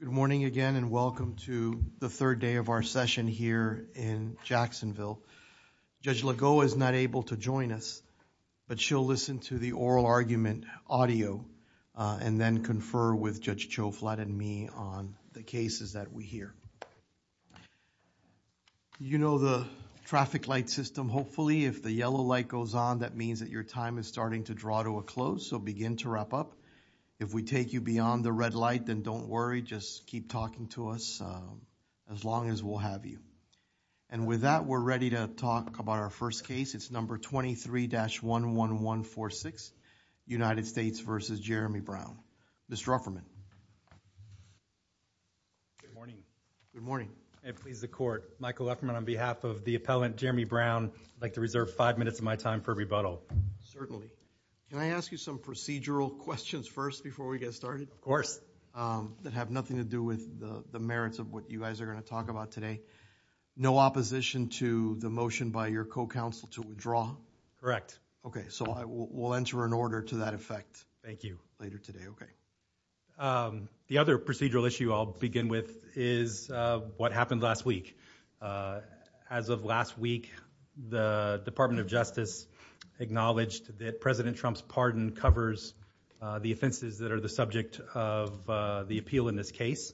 Good morning again and welcome to the third day of our session here in Jacksonville. Judge Lagoa is not able to join us, but she'll listen to the oral argument audio and then confer with Judge Cho, Flatt, and me on the cases that we hear. You know the traffic light system. Hopefully if the yellow light goes on, that means that your time is starting to draw to a close, so begin to wrap up. If we take you beyond the red light, then don't worry, just keep talking to us as long as we'll have you. And with that, we're ready to talk about our first case. It's number 23-11146, United States v. Jeremy Brown. Mr. Ufferman. Good morning. It pleases the Court. Michael Ufferman on behalf of the appellant Jeremy Brown, I'd like to reserve five minutes of my time for rebuttal. Certainly. Can I ask you some procedural questions first before we get started? Of course. That have nothing to do with the merits of what you guys are going to talk about today? No opposition to the motion by your co-counsel to withdraw? Correct. Okay, so I will enter an order to that effect. Thank you. Later today, okay. The other procedural issue I'll begin with is what happened last week. As of last week, the Department of Justice acknowledged that President Trump's pardon covers the offenses that are the subject of the appeal in this case.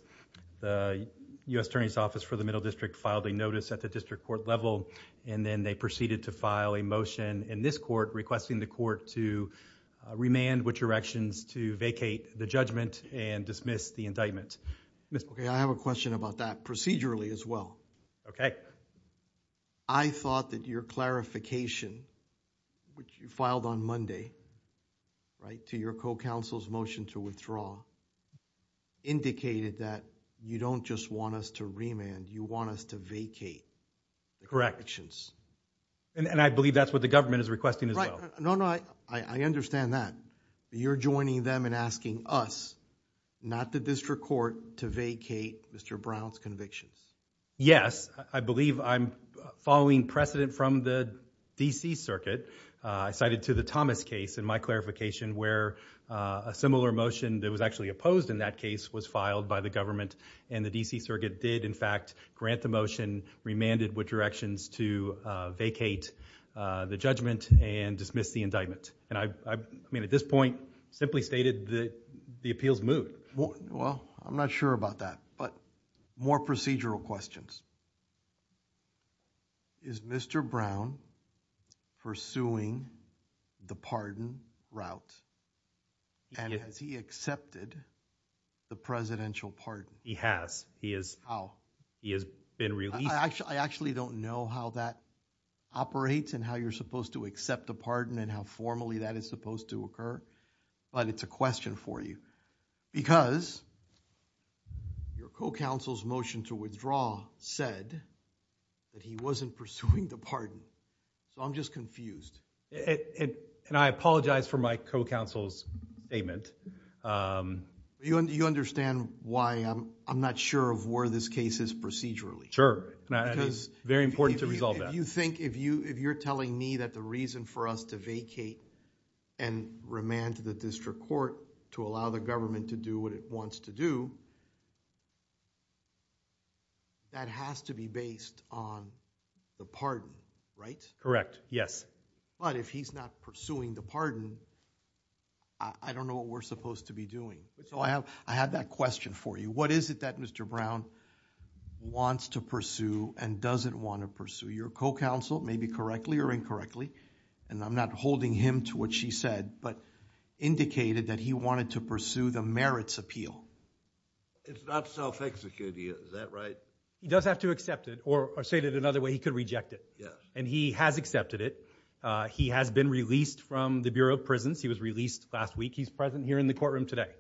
The U.S. Attorney's Office for the Middle District filed a notice at the district court level and then they proceeded to file a motion in this court requesting the court to remand which erections to vacate the judgment and dismiss the indictment. Okay, I have a question about that procedurally as well. Okay. I thought that your clarification, which you filed on Monday, right, to your co-counsel's motion to withdraw indicated that you don't just want us to remand, you want us to vacate the corrections. Correct. And I believe that's what the government is requesting as well. No, no, I understand that. You're joining them and asking us, not the district court, to vacate Mr. Brown's convictions. Yes, I believe I'm following precedent from the DC Circuit. I cited to the Thomas case in my clarification where a similar motion that was actually opposed in that case was filed by the government and the DC Circuit did in fact grant the motion, remanded which erections to vacate the judgment and dismiss the indictment. And I mean at this point simply stated that the appeals moved. Well, I'm not sure about that, but more procedural questions. Is Mr. Brown pursuing the pardon route and has he accepted the presidential pardon? He has. He has been released. I actually don't know how that operates and how you're supposed to accept a pardon and how formally that is supposed to occur, but it's a question for you because your co-counsel's motion to withdraw said that he wasn't pursuing the pardon. So I'm just confused. And I apologize for my co-counsel's statement. You understand why I'm not sure of where this case is procedurally. Sure, it's very important to resolve that. You think if you're telling me that the reason for us to vacate and remand to the district court to allow the government to do what it wants to do, that has to be based on the pardon, right? Correct, yes. But if he's not pursuing the pardon, I don't know what we're supposed to be doing. So I have that question for you. What is it that Mr. Brown wants to pursue and doesn't want to pursue? Your co-counsel may be correctly or incorrectly, and I'm not holding him to what she said, but indicated that he wanted to pursue the merits appeal. It's not self-executive, is that right? He does have to accept it or say it another way, he could reject it. Yeah. And he has accepted it. He has been released from the Bureau of Prisons. He was released last week. He's present here in the courtroom today.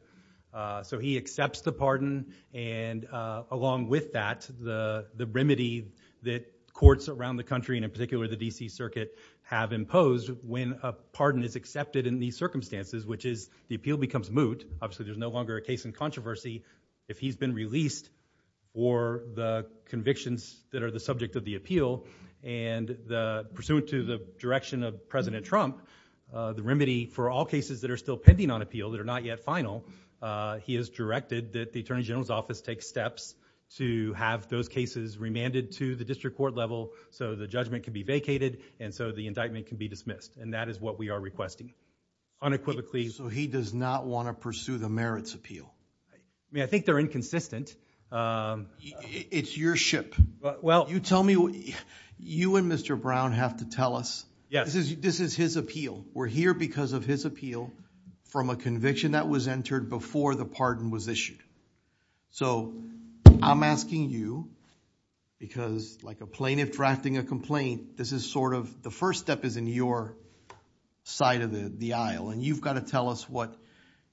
So he accepts the pardon and along with that, the remedy that courts around the country and in particular the DC Circuit have imposed when a pardon is accepted in these circumstances, which is the appeal becomes moot. Obviously there's no longer a case in controversy if he's been released or the convictions that are the subject of the appeal and pursuant to the direction of President Trump, the remedy for all cases that are still pending on appeal that are not yet final, he has directed that the Attorney General's Office take steps to have those cases remanded to the district court level so the judgment can be vacated and so the indictment can be dismissed and that is what we are requesting unequivocally. So he does not want to pursue the merits appeal? I mean, I think they're inconsistent. It's your ship. Well, you tell me what you and Mr. Brown have to tell us. Yes. This is his appeal. We're here because of his appeal from a conviction that was entered before the pardon was issued. So I'm asking you because like a plaintiff drafting a complaint, this is sort of the first step is in your side of the aisle and you've got to tell us what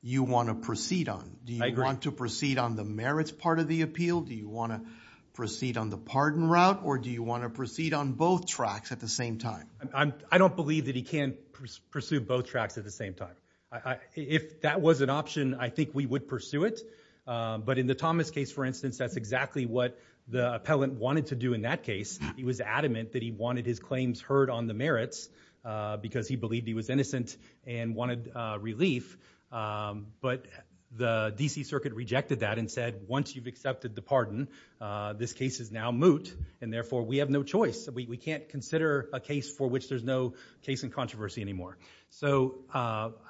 you want to proceed on. Do you want to proceed on the merits part of the appeal? Do you want to proceed on the pardon route or do you want to proceed on both tracks at the same time? I don't believe that he can pursue both tracks at the same time. If that was an option, I think we would pursue it but in the Thomas case, for instance, that's exactly what the appellant wanted to do in that case. He was adamant that he wanted his claims heard on the merits because he believed he was innocent and wanted relief but the DC Circuit rejected that and said once you've accepted the pardon, this case is now moot and therefore we have no choice. We can't consider a case for which there's no case in controversy anymore. So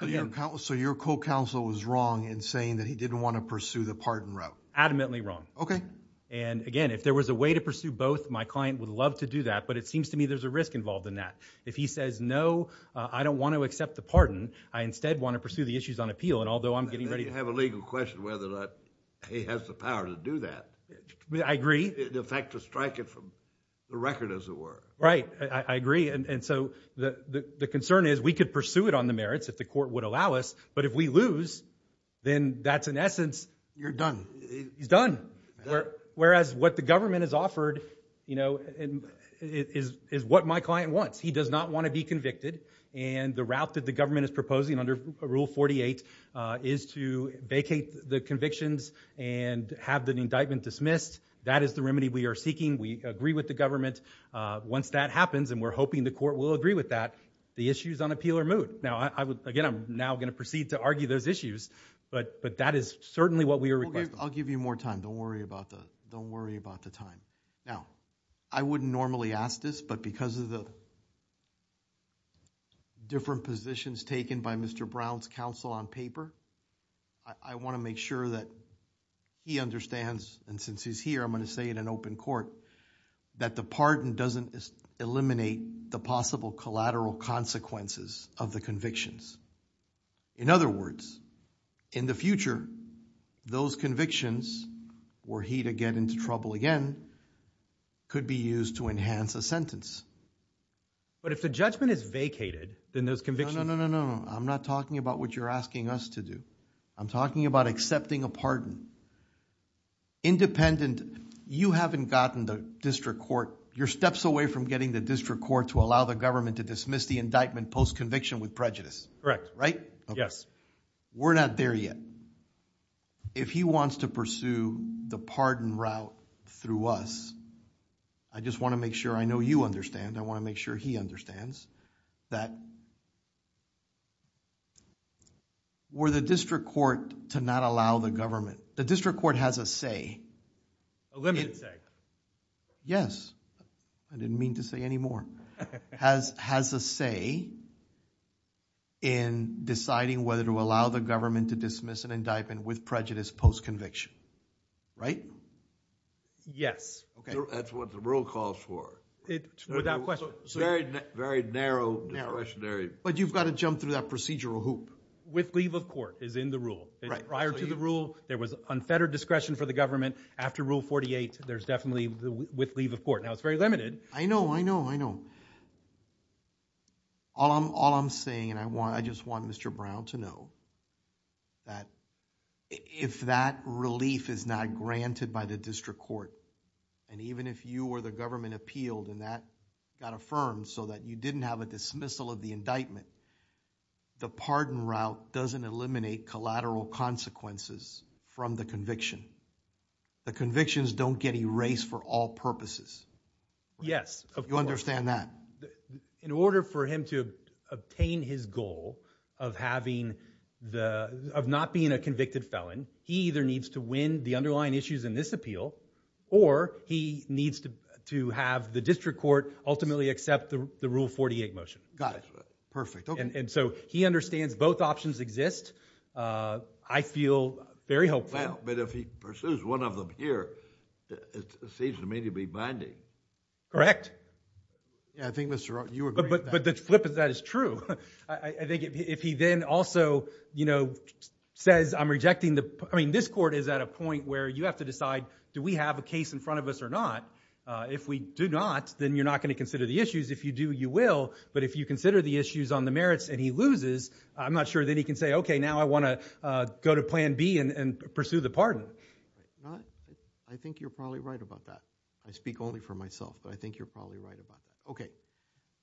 your co-counsel was wrong in saying that he didn't want to pursue the pardon route. Adamantly wrong. Okay. And again, if there was a way to pursue both, my client would love to do that but it seems to me there's a risk involved in that. If he says no, I don't want to accept the pardon. I instead want to pursue the issues on appeal and although I'm getting ready to have a legal question whether or not he has the power to do that. I agree. In effect, to strike it from the record as it were. Right, I agree and so the concern is we could pursue it on the merits if the court would allow us but if we lose, then that's in essence, you're done. He's done. Whereas what the government has offered, you know, is what my client wants. He does not want to be convicted and the route that the government is proposing under Rule 48 is to vacate the convictions and have the indictment dismissed. That is the remedy we are seeking. We agree with the government. Once that happens and we're hoping the court will agree with that, the issue is on appeal or moot. Now, I would, again, I'm now going to proceed to argue those issues but that is certainly what we are requesting. I'll give you more time. Don't worry about that. Don't worry about the time. Now, I wouldn't normally ask this but because of the different positions taken by Mr. Brown's counsel on paper, I want to make sure that he understands and since he's here, I'm going to say in an open court that the pardon doesn't eliminate the possible collateral consequences of the convictions. In other words, in the future, those convictions, were he to get into trouble again, could be used to enhance a sentence. But if the judgment is vacated, then those convictions... No, no, no, no. I'm not talking about what you're asking us to do. I'm talking about accepting a pardon. Independent, you haven't gotten the district court, you're steps away from getting the district court to allow the government to dismiss the indictment post-conviction with prejudice, right? Correct. Yes. We're not there yet. If he wants to pursue the pardon route through us, I just want to make sure I know you understand, I want to make sure he understands that were the district court to not allow the government... the district court has a say... A limited say. Yes. I didn't mean to say any more. Has a say in deciding whether to allow the government to dismiss an indictment with prejudice post-conviction, right? Yes. That's what the rule calls for. Without question. Very narrow discretionary... But you've got to jump through that procedural hoop. With leave of court is in the rule. Prior to the rule, there was unfettered discretion for the government. After rule 48, there's definitely with leave of court. Now, it's very limited... I know, I know, I know. All I'm saying, and I just want Mr. Brown to know that if that relief is not granted by the district court, and even if you or the government appealed and that got affirmed so that you didn't have a dismissal of the indictment, the pardon route doesn't eliminate collateral consequences from the conviction. The convictions don't get erased for all purposes. Yes. You understand that? In order for him to obtain his goal of not being a convicted felon, he either needs to win the underlying issues in this appeal or he needs to have the district court ultimately accept the rule 48 motion. Got it. Perfect. And so, he understands both options exist. I feel very hopeful. Well, but if he pursues one of them here, it seems to me to be binding. Correct. Yeah, I think Mr.... you agree with that. But the flip of that is true. I think if he then also says, I'm rejecting the... I mean, this court is at a point where you have to decide, do we have a case in front of us or not? If we do not, then you're not going to consider the issues. If you do, you will, but if you consider the issues on the merits and he loses, I'm not sure that he can say, okay, now I want to go to plan B and pursue the pardon. I think you're probably right about that. I speak only for myself, but I think you're probably right about that. Okay.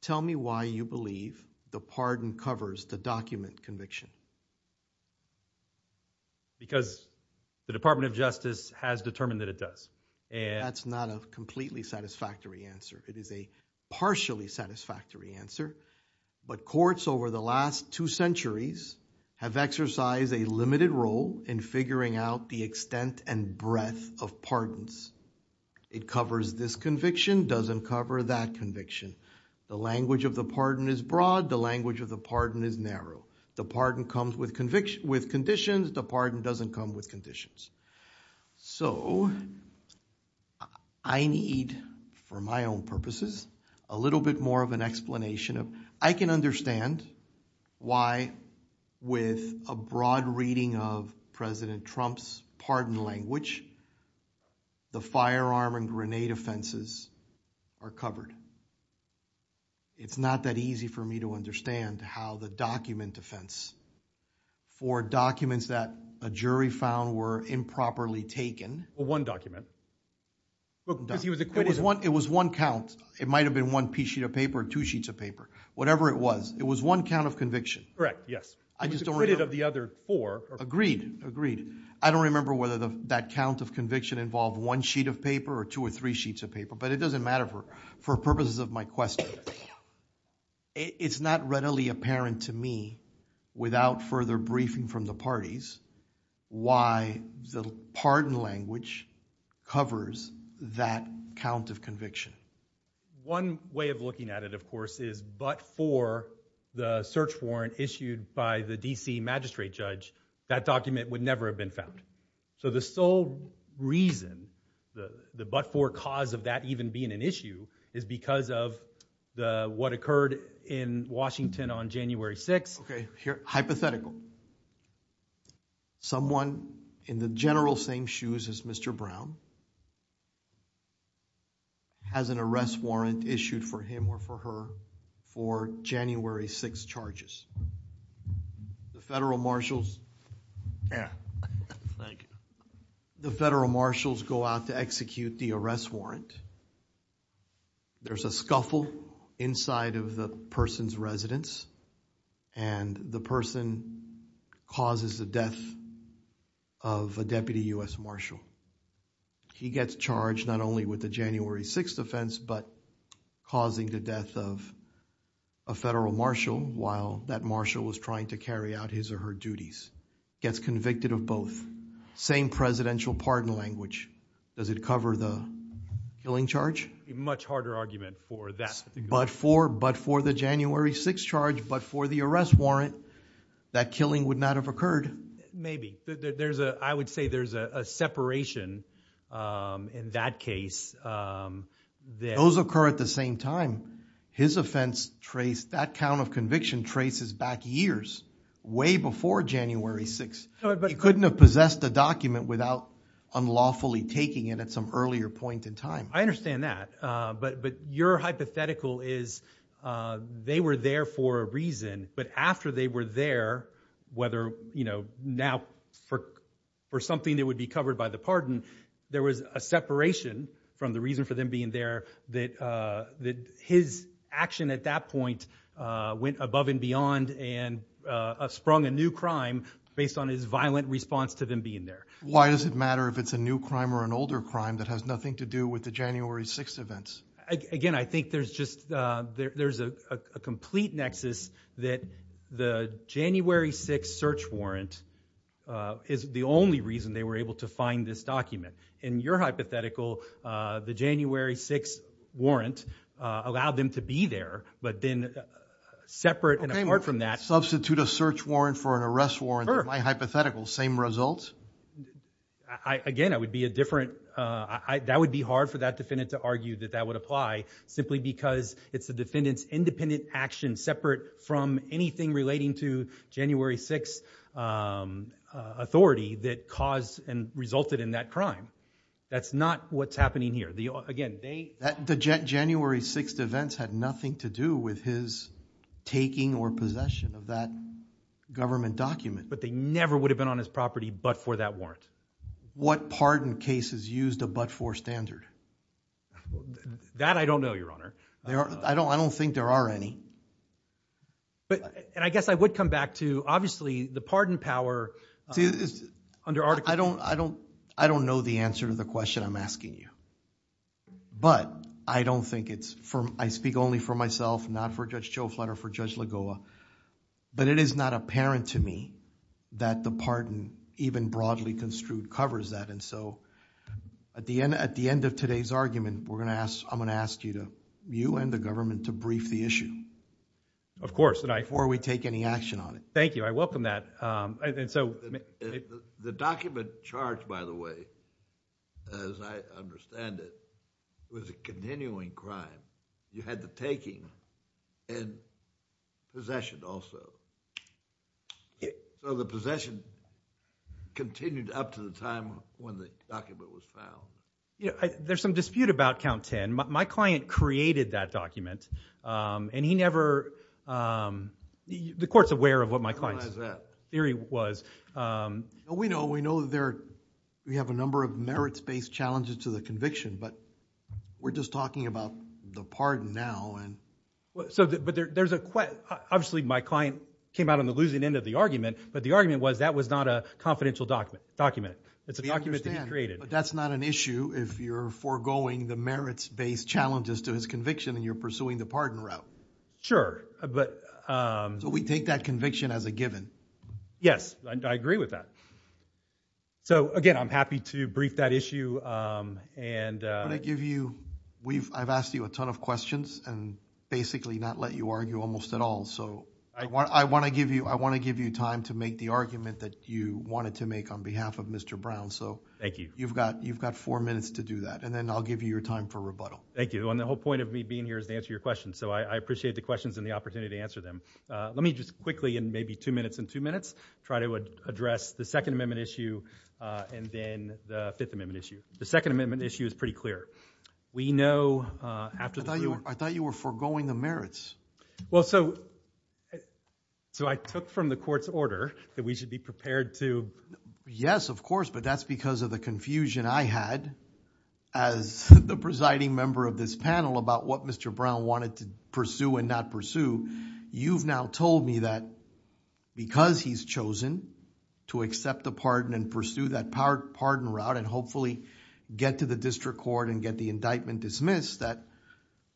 Tell me why you believe the pardon covers the document conviction. Because the Department of Justice has determined that it does. That's not a completely satisfactory answer. It is a partially satisfactory answer, but courts over the last two centuries have exercised a limited role in figuring out the extent and breadth of pardons. It covers this conviction, doesn't cover that conviction. The language of the pardon is broad. The language of the pardon is narrow. The pardon comes with conditions. The pardon doesn't come with conditions. I need, for my own purposes, a little bit more of an explanation. I can understand why with a broad reading of President Trump's pardon language, the firearm and grenade offenses are covered. It's not that easy for me to understand how the document defense for documents that a jury found were improperly taken... Well, one document, because he was acquitted... It was one count. It might have been one piece sheet of paper or two sheets of paper, whatever it was. It was one count of conviction. Correct, yes. I just don't remember... He was acquitted of the other four. Agreed, agreed. I don't remember whether that count of conviction involved one sheet of paper or two or three sheets of paper, but it doesn't seem that readily apparent to me, without further briefing from the parties, why the pardon language covers that count of conviction. One way of looking at it, of course, is but for the search warrant issued by the D.C. magistrate judge, that document would never have been found. So the sole reason, the but for cause of that even being an issue, is because of what occurred in Washington on January 6th... Okay, hypothetical. Someone in the general same shoes as Mr. Brown has an arrest warrant issued for him or for her for January 6th charges. The federal marshals... Thank you. The federal marshals go out to execute the arrest warrant. There's a scuffle inside of the person's residence and the person causes the death of a deputy U.S. marshal. He gets charged not only with the January 6th offense, but causing the death of a federal marshal while that marshal was trying to carry out his or her duties. Gets convicted of both. Same presidential pardon language. Does it cover the killing charge? Much harder argument for that. But for the January 6th charge, but for the arrest warrant, that killing would not have occurred. Maybe. I would say there's a separation in that case. Those occur at the same time. His offense traced... that count of conviction traces back years, way before January 6th. He couldn't have possessed a document without unlawfully taking it at some earlier point in time. I understand that, but your hypothetical is they were there for a reason, but after they were there, whether, you know, now for something that would be covered by the pardon, there was a separation from the reason for them being there, that his action at that point went above and beyond and sprung a new crime based on his violent response to them being there. Why does it matter if it's a new crime or an older crime that has nothing to do with the January 6th events? Again, I think there's just... there's a complete nexus that the January 6th search warrant is the only reason they were able to find this document. In your hypothetical, the January 6th warrant allowed them to be there, but then separate and apart from that... Substitute a search warrant for an arrest warrant in my hypothetical. Same results? Again, I would be a different... that would be hard for that defendant to argue that that would apply simply because it's the defendant's independent action separate from anything relating to January 6th authority that caused and resulted in that crime. That's not what's happening here. Again, they... The January 6th events had nothing to do with his taking or possession of that government document. But they never would have been on his property but for that warrant. What pardon cases used a but-for standard? That I don't know, Your Honor. I don't think there are any. But... and I guess I would come back to, obviously, the pardon power... Under Article... I don't know the answer to the question I'm asking you, but I don't think it's... I speak only for myself, not for Judge Joe Flutter, for Judge Lagoa, but it is not apparent to me that the pardon even broadly construed covers that. At the end of today's argument, I'm going to ask you and the government to brief the issue... Of course.... before we take any action on it. Thank you. I welcome that. And so... The document charged, by the way, as I understand it, was a continuing crime. You had the taking and possession also. So the possession continued up to the time when the document was found. There's some dispute about Count 10. My client created that document and he never... the court's aware of what my client's theory was. We know that there... we have a number of merits-based challenges to the conviction, but we're just talking about the pardon now and... But there's a... obviously, my client came out on the losing end of the argument, but the argument was that was not a confidential document. It's a document that he created. We understand, but that's not an issue if you're foregoing the merits-based challenges to his conviction and you're pursuing the pardon route. Sure, but... So we take that conviction as a given? Yes, I agree with that. So again, I'm happy to brief that issue and... I'm going to give you... I've asked you a ton of questions and basically not let you argue almost at all. So I want to give you time to make the argument that you wanted to make on behalf of Mr. Brown. So... Thank you. You've got four minutes to do that, and then I'll give you your time for Thank you. And the whole point of me being here is to answer your questions. So I appreciate the questions and the opportunity to answer them. Let me just quickly, in maybe two minutes and two minutes, try to address the Second Amendment issue and then the Fifth Amendment issue. The Second Amendment issue is pretty clear. We know... I thought you were foregoing the merits. Well, so I took from the Court's order that we should be prepared to... Yes, of course, but that's because of the confusion I had as the presiding member of this panel about what Mr. Brown wanted to pursue and not pursue. You've now told me that because he's chosen to accept the pardon and pursue that pardon route and hopefully get to the district court and get the indictment dismissed, that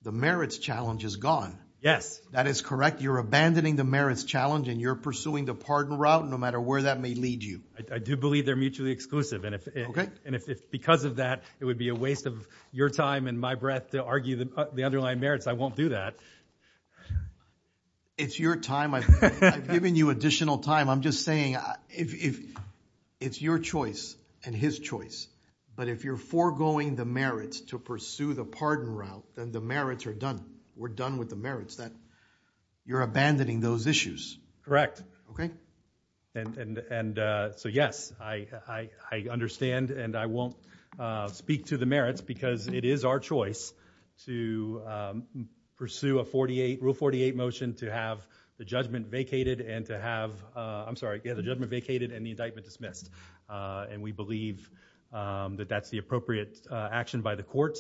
the merits challenge is gone. Yes. That is correct. You're abandoning the merits challenge and you're pursuing the pardon route no matter where that may lead you. I do believe they're mutually exclusive. Okay. And if because of that it would be a waste of your time and my breath to argue the underlying merits, I won't do that. It's your time. I've given you additional time. I'm just saying it's your choice and his choice, but if you're foregoing the merits to pursue the pardon route, then the merits are done. We're done with the merits. You're abandoning those issues. Correct. Okay. And so yes, I understand and I won't speak to the merits because it is our choice to pursue a 48, Rule 48 motion to have the judgment vacated and to have, I'm sorry, get the judgment vacated and the indictment dismissed. And we believe that that's the appropriate action by the court.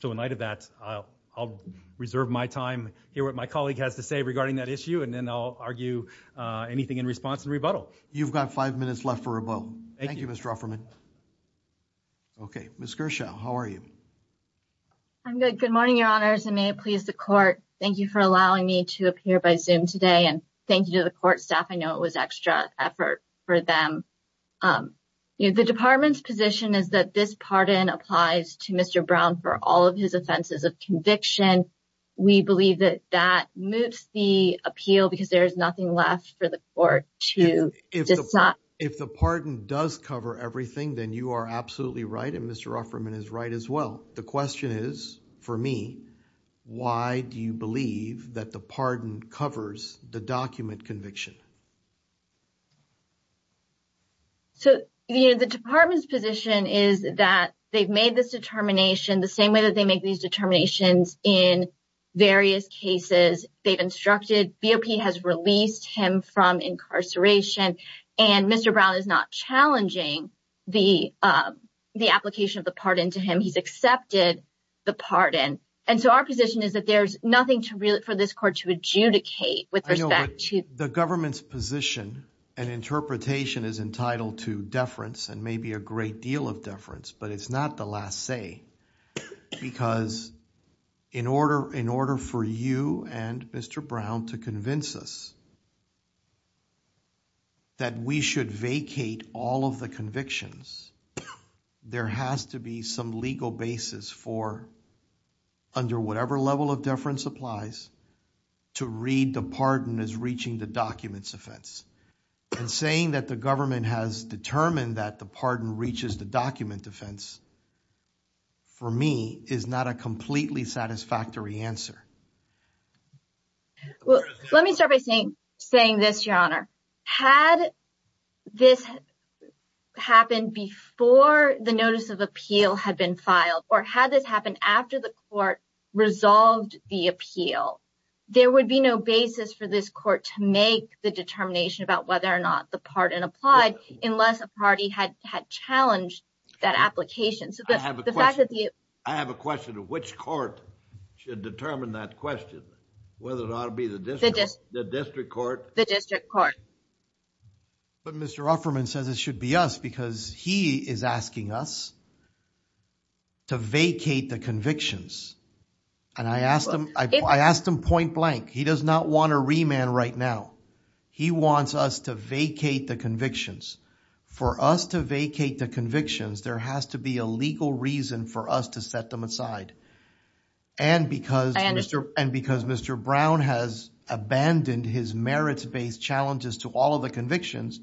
So in light of that, I'll reserve my time, hear what my colleague has to say about the rebuttal. You've got five minutes left for a vote. Thank you, Mr. Rufferman. Okay. Ms. Kershaw, how are you? I'm good. Good morning, your honors and may it please the court. Thank you for allowing me to appear by zoom today and thank you to the court staff. I know it was extra effort for them. The department's position is that this pardon applies to Mr. Brown for all of his offenses of conviction. We believe that that moves the appeal because there's nothing left for the court to decide. If the pardon does cover everything, then you are absolutely right. And Mr. Rufferman is right as well. The question is for me, why do you believe that the pardon covers the document conviction? So, you know, the department's position is that they've made this determination the same way that they make these determinations in various cases. They've instructed BOP has released him from incarceration and Mr. Brown is not challenging the application of the pardon to him. He's accepted the pardon. And so, our position is that there's nothing for this court to adjudicate with respect to- The government's position and interpretation is entitled to deference and maybe a great deal of deference, but it's not the last say because in order for you and Mr. Brown to convince us that we should vacate all of the convictions, there has to be some legal basis for under whatever level of deference applies to read the pardon as reaching the document's offense. And saying that the government has determined that the pardon reaches the document defense, for me, is not a completely satisfactory answer. Well, let me start by saying this, Your Honor. Had this happened before the notice of appeal had been filed or had this happened after the court resolved the appeal, there would be no basis for this court to make the determination about whether or not the pardon applied unless a party had challenged that application. I have a question of which court should determine that question, whether it ought to be the district court. But Mr. Offerman says it should be us because he is asking us to vacate the convictions and I asked him point blank. He does not want a remand right now. He wants us to vacate the convictions. For us to vacate the convictions, there has to be a legal reason for us to set them aside. And because Mr. Brown has abandoned his merits-based challenges to all of the convictions,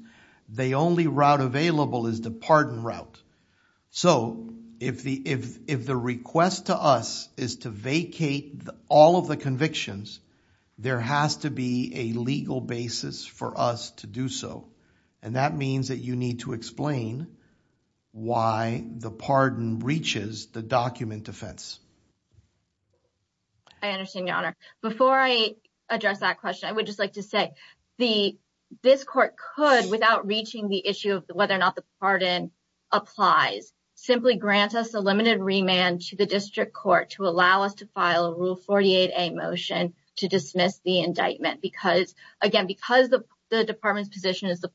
the only route available is the pardon route. So, if the request to us is to vacate all of the convictions, there has to be a legal basis for us to do so. And that means that you need to explain why the pardon reaches the document defense. I understand, Your Honor. Before I address that question, I would just like to say this court could, without reaching the issue of whether or not the pardon applies, simply grant us a limited remand to the district court to allow us to file a Rule 48a motion to dismiss the indictment because, again, because the department's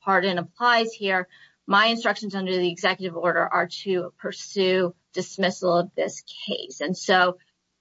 pardon applies here, my instructions under the executive order are to pursue dismissal of this case. And so,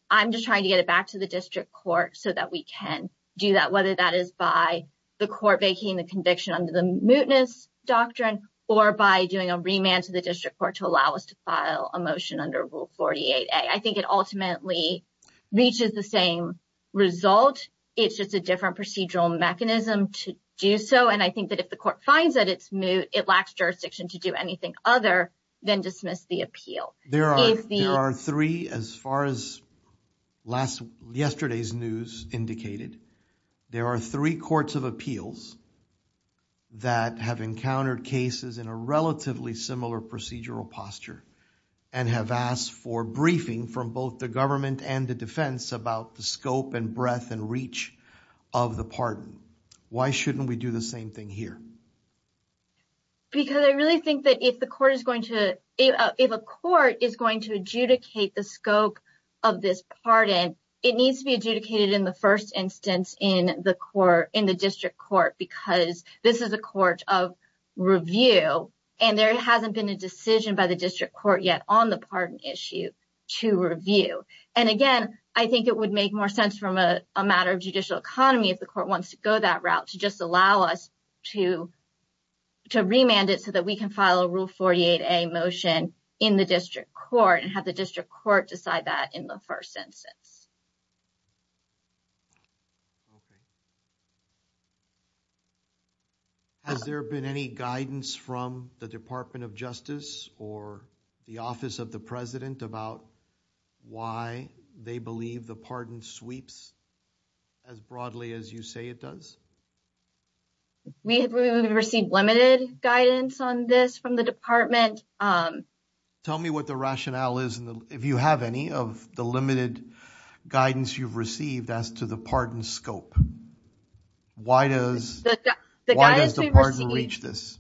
I'm just trying to get it back to the district court so that we can do that, whether that is by the court vacating the conviction under the mootness doctrine or by doing a remand to the district court to allow us to file a motion under Rule 48a. I think it ultimately reaches the same result. It's just a different procedural mechanism to do so. I think that if the court finds that it's moot, it lacks jurisdiction to do anything other than dismiss the appeal. There are three, as far as yesterday's news indicated, there are three courts of appeals that have encountered cases in a relatively similar procedural posture and have asked for briefing from both the government and the defense about the scope and breadth and reach of the pardon. Why shouldn't we do the same thing here? Because I really think that if a court is going to adjudicate the scope of this pardon, it needs to be adjudicated in the first instance in the district court because this is a court of review and there hasn't been a decision by the district court yet on the pardon issue to review. And again, I think it would make more sense from a matter of judicial economy if the court wants to go that route to just allow us to remand it so that we can file a Rule 48a motion in the district court and have the district court decide that in the first instance. Has there been any guidance from the Department of Justice or the Office of President about why they believe the pardon sweeps as broadly as you say it does? We have received limited guidance on this from the department. Tell me what the rationale is, if you have any, of the limited guidance you've received as to the pardon scope. Why does the pardon reach this?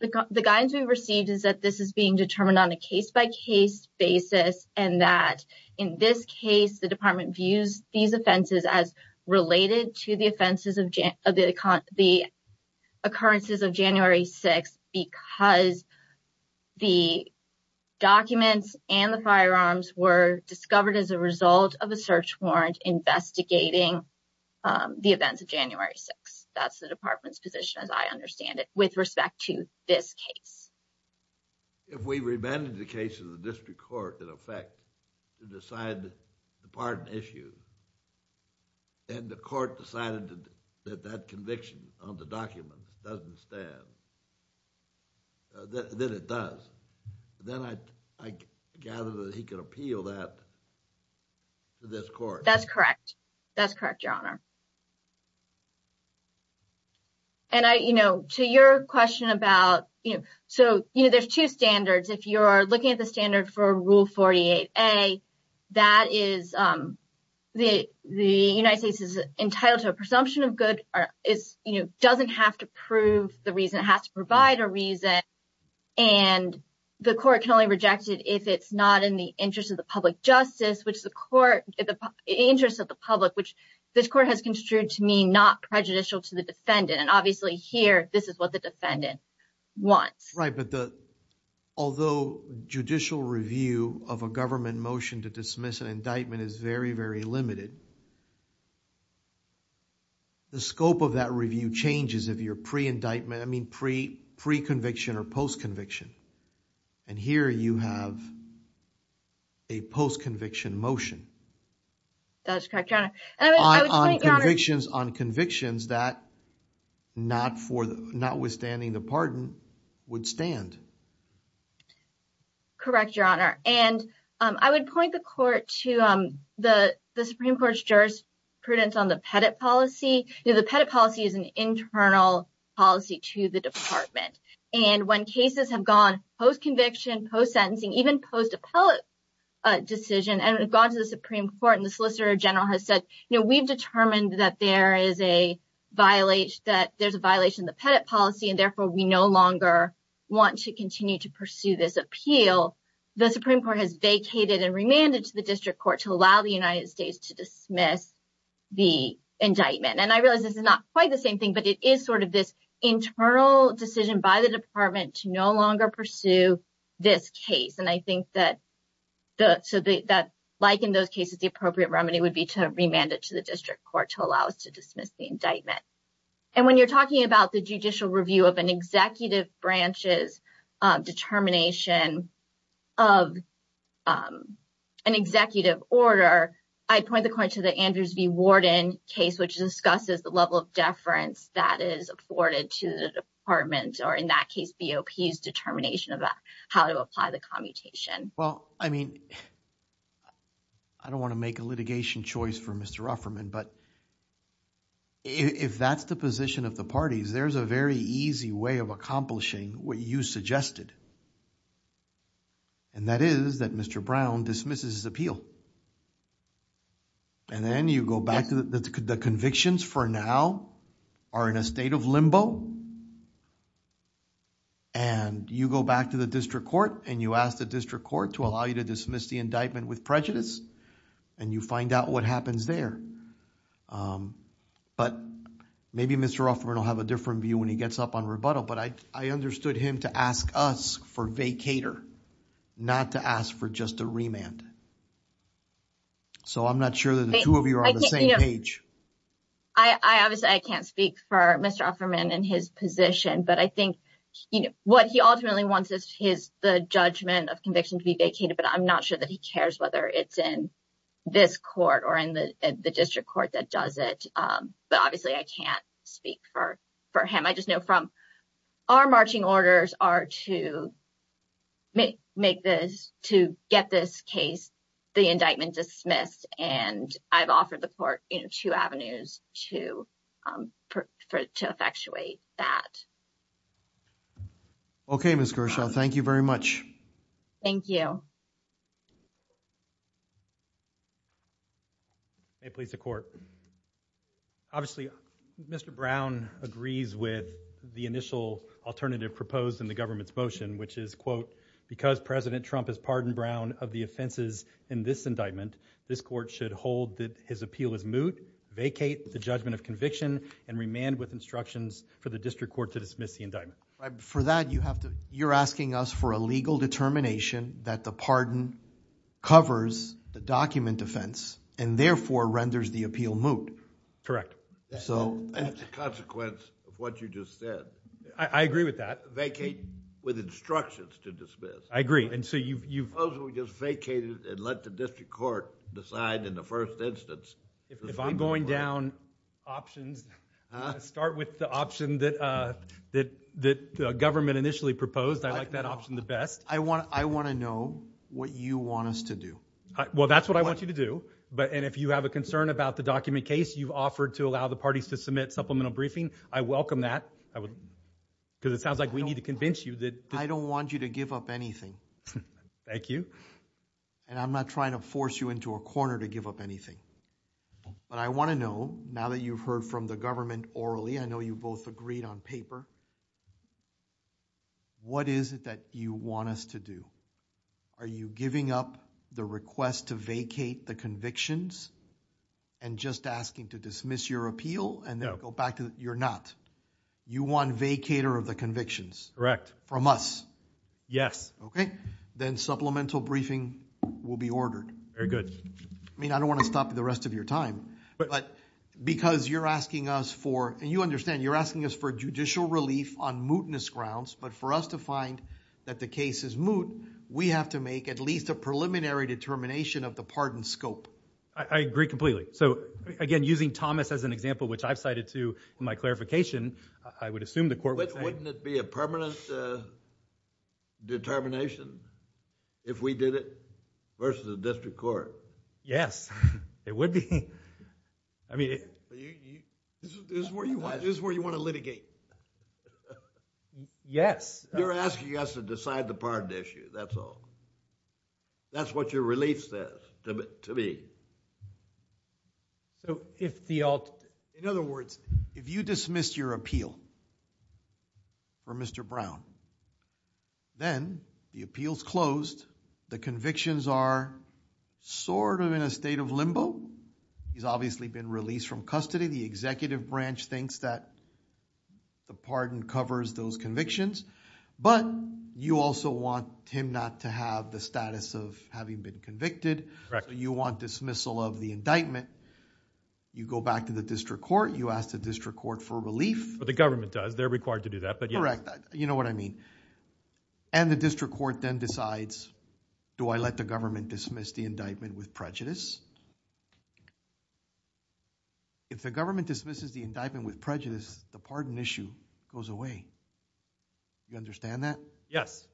The guidance we've received is that this is being determined on a case-by-case basis and that in this case the department views these offenses as related to the occurrences of January 6th because the documents and the firearms were discovered as a result of a search warrant investigating the events of January 6th. That's the department's position as I understand it with respect to this case. If we remanded the case to the district court in effect to decide the pardon issue and the court decided that that conviction on the document doesn't stand, then it does. Then I gather that he could appeal that to this court. That's correct. That's correct, Your Honor. And to your question about, so there's two standards. If you're looking at the standard for Rule 48a, that is the United States is entitled to a presumption of good, doesn't have to prove the reason, it has to provide a reason, and the court can only reject it if it's not in the interest of the public justice, which the court, in the interest of the defendant, and obviously here this is what the defendant wants. Right, but although judicial review of a government motion to dismiss an indictment is very, very limited, the scope of that review changes if you're pre-indictment, I mean pre-conviction or post-conviction, and here you have a post-conviction motion. That's correct, Your Honor. On convictions that notwithstanding the pardon would stand. Correct, Your Honor, and I would point the court to the Supreme Court's jurisprudence on the Pettit policy. The Pettit policy is an internal policy to the department, and when cases have gone post-conviction, post-sentencing, even post-appellate decision, and we've gone to the Supreme Court, and the Solicitor General has said, you know, we've determined that there is a violation of the Pettit policy, and therefore we no longer want to continue to pursue this appeal. The Supreme Court has vacated and remanded to the district court to allow the United States to dismiss the indictment, and I realize this is not quite the same thing, but it is sort of this internal decision by the department to no longer pursue this case, and I think that like in those cases, the appropriate remedy would be to remand it to the district court to allow us to dismiss the indictment, and when you're talking about the judicial review of an executive branch's determination of an executive order, I point the court to the Andrews v. Warden case, which discusses the level of deference that is afforded to the department, or in that case, BOP's determination about how to apply the commutation. Well, I mean, I don't want to make a litigation choice for Mr. Rufferman, but if that's the position of the parties, there's a very easy way of accomplishing what you suggested, and that is that Mr. Brown dismisses his appeal, and then you go back to the convictions for now are in a state of limbo, and you go back to the district court, and you ask the district court to allow you to dismiss the indictment with prejudice, and you find out what happens there, but maybe Mr. Rufferman will have a different view when he gets up on rebuttal, but I understood him to ask us for vacater, not to ask for just a remand, so I'm not sure that the two of you are on the same page. Obviously, I can't speak for Mr. Rufferman and his position, but I think what he ultimately wants is the judgment of conviction to be vacated, but I'm not sure that he cares whether it's in this court or in the district court that does it, but obviously, I can't speak for him. I just know from our marching orders are to get this case, the indictment dismissed, and I've offered the court two avenues to effectuate that. Okay, Ms. Gershaw, thank you very much. Thank you. May it please the court. Obviously, Mr. Brown agrees with the initial alternative proposed in the government's motion, which is, quote, because President Trump has pardoned Brown of the offenses in this indictment, this court should hold that his appeal is moot, vacate the judgment of conviction, and remand with instructions for the district court to dismiss the indictment. For that, you're asking us for a legal determination that the pardon covers the document defense and therefore renders the appeal moot. That's a consequence of what you just said. I agree with that. Vacate with instructions to dismiss. I agree, and so you... Supposedly, we just vacated and let the district court decide in the first instance. If I'm going down options, start with the option that the government initially proposed. I like that option the best. I want to know what you want us to do. Well, that's what I want you to do, and if you have a concern about the document case you've offered to allow the parties to submit supplemental briefing, I welcome that, because it sounds like we need to convince you that... I don't want you to give up anything. Thank you. And I'm not trying to force you into a corner to give up anything. But I want to know, now that you've heard from the government orally, I know you both agreed on paper, what is it that you want us to do? Are you giving up the request to vacate the convictions and just asking to dismiss your appeal and then go back to... you're not. You want vacator of the convictions. From us. Yes. Okay. Then supplemental briefing will be ordered. Very good. I mean, I don't want to stop you the rest of your time, but because you're asking us for, and you understand, you're asking us for judicial relief on mootness grounds, but for us to find that the case is moot, we have to make at least a preliminary determination of the pardon scope. I agree completely. So, again, using Thomas as an example, which I've cited to my clarification, I would assume the court would say... Wouldn't it be a permanent determination if we did it versus the district court? Yes, it would be. I mean... This is where you want to litigate. Yes. You're asking us to decide the pardon issue. That's all. That's what your relief says to me. In other words, if you dismiss your appeal for Mr. Brown, then the appeal's closed, the convictions are sort of in a state of limbo. He's obviously been released from custody. The executive branch thinks that the pardon covers those convictions, but you also want him not to have the status of having been convicted. Correct. You want dismissal of the indictment. You go back to the district court. You ask the district court for relief. The government does. They're required to do that, but yes. Correct. You know what I mean. And the district court then decides, do I let the government dismiss the indictment with prejudice? If the government dismisses the indictment with prejudice, the pardon issue goes away. Do you understand that? Yes.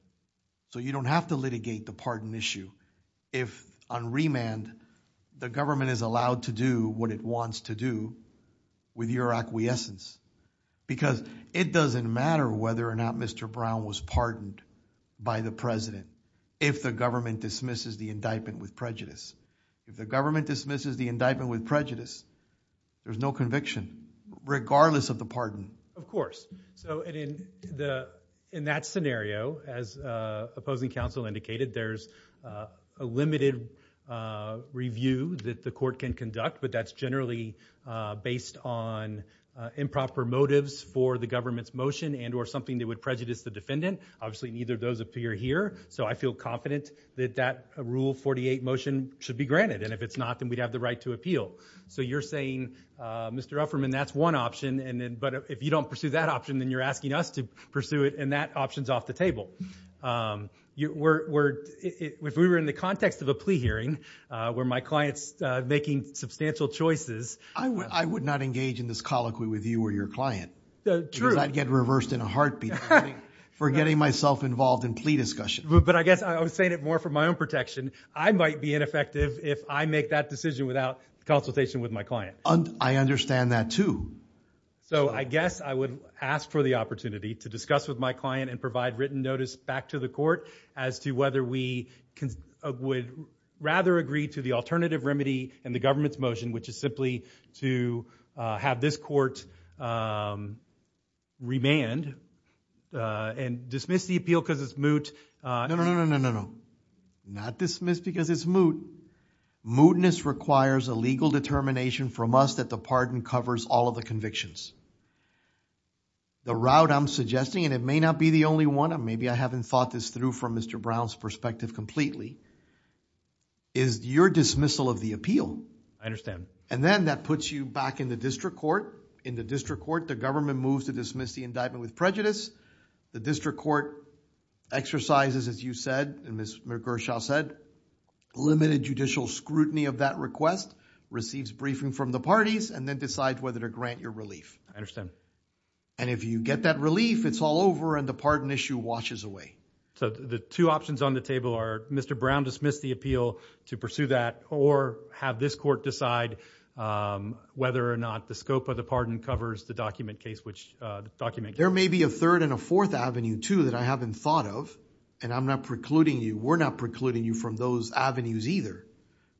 So you don't have to litigate the pardon issue if on remand, the government is allowed to do what it wants to do with your acquiescence. Because it doesn't matter whether or not Mr. Brown was pardoned by the president if the government dismisses the indictment with prejudice. If the government dismisses the indictment with prejudice, there's no conviction, regardless of the pardon. Of course. So in that scenario, as opposing counsel indicated, there's a limited review that the court can conduct, but that's generally based on improper motives for the government's motion and or something that would prejudice the defendant. Obviously, neither of those appear here. So I feel confident that that Rule 48 motion should be granted. And if it's not, then we'd have the right to appeal. So you're saying, Mr. Ufferman, that's one option. But if you don't pursue that option, then you're asking us to pursue it. And that option's off the table. If we were in the context of a plea hearing, where my client's making substantial choices. I would not engage in this colloquy with you or your client. True. Because I'd get reversed in a heartbeat for getting myself involved in plea discussion. But I guess I was saying it more for my own protection. I might be ineffective if I make that decision without consultation with my client. I understand that, too. So I guess I would ask for the opportunity to discuss with my client and provide written notice back to the court as to whether we would rather agree to the alternative remedy in the government's motion, which is simply to have this court remand and dismiss the appeal because it's moot. No, no, no, no, no, no. Not dismiss because it's moot. Mootness requires a legal determination from us that the pardon covers all of the convictions. The route I'm suggesting, and it may not be the only one. Maybe I haven't thought this through from Mr. Brown's perspective completely, is your dismissal of the appeal. I understand. And then that puts you back in the district court. In the district court, the government moves to dismiss the indictment with prejudice. The district court exercises, as you said, and Ms. McGershall said, limited judicial scrutiny of that request, receives briefing from the parties, and then decides whether to grant your relief. I understand. And if you get that relief, it's all over, and the pardon issue washes away. So the two options on the table are Mr. Brown dismiss the appeal to pursue that, or have this court decide whether or not the scope of the pardon covers the document case. There may be a third and a fourth avenue, too, that I haven't thought of, and I'm not precluding you. We're not precluding you from those avenues either.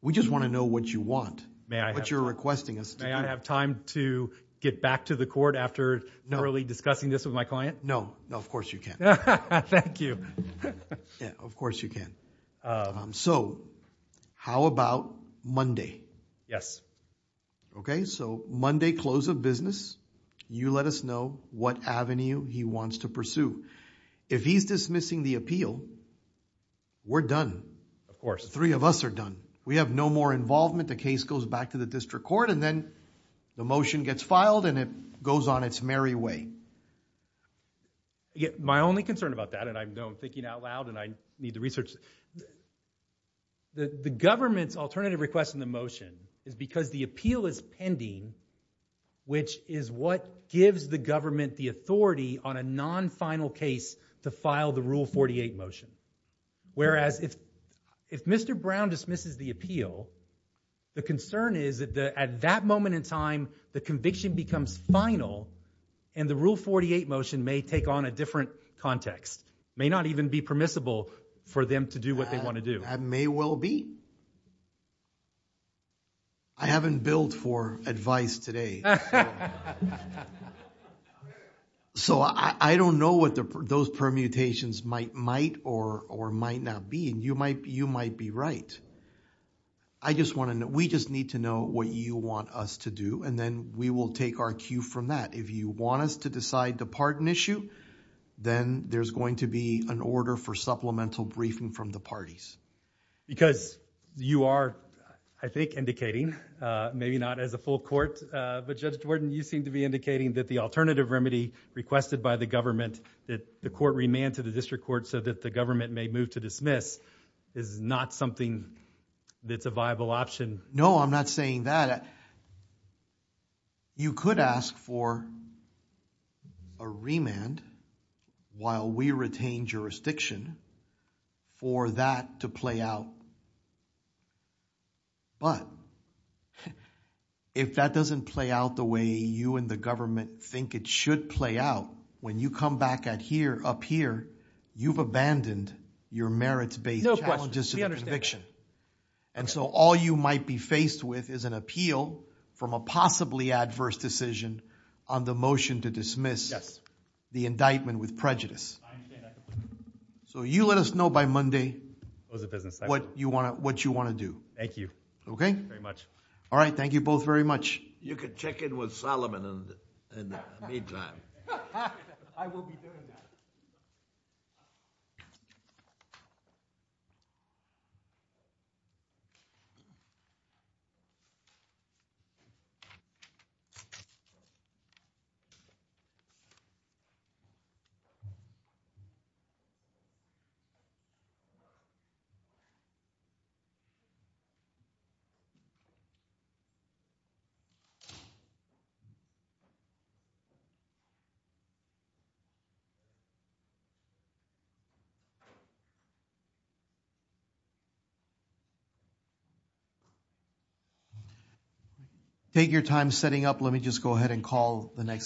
We just want to know what you want, what you're requesting us to do. May I have time to get back to the court after thoroughly discussing this with my client? No, no, of course you can. Thank you. Yeah, of course you can. So how about Monday? Yes. Okay, so Monday, close of business. You let us know what avenue he wants to pursue. If he's dismissing the appeal, we're done. Of course. The three of us are done. We have no more involvement. The case goes back to the district court, and then the motion gets filed, and it goes on its merry way. My only concern about that, and I know I'm thinking out loud, and I need to research, the government's alternative request in the motion is because the appeal is pending, which is what gives the government the authority on a non-final case to file the Rule 48 motion. Whereas if Mr. Brown dismisses the appeal, the concern is that at that moment in time, the conviction becomes final, and the Rule 48 motion may take on a different context. May not even be permissible for them to do what they want to do. That may well be. I haven't billed for advice today. So, I don't know what those permutations might or might not be, and you might be right. I just want to know. We just need to know what you want us to do, and then we will take our cue from that. If you want us to decide the pardon issue, then there's going to be an order for supplemental briefing from the parties. Because you are, I think, indicating, maybe not as a full court, but Judge Jordan, you seem to be indicating that the alternative remedy requested by the government that the court remand to the district court so that the government may move to dismiss is not something that's a viable option. No, I'm not saying that. I'm saying that you could ask for a remand while we retain jurisdiction for that to play out. But if that doesn't play out the way you and the government think it should play out, when you come back up here, you've abandoned your merits-based challenges to the conviction. And so all you might be faced with is an appeal from a possibly adverse decision on the motion to dismiss the indictment with prejudice. So you let us know by Monday what you want to do. Thank you very much. All right, thank you both very much. You can check in with Solomon in the meantime. I will be doing that. Thank you. Thank you. Take your time setting up. Let me just go ahead and call the next.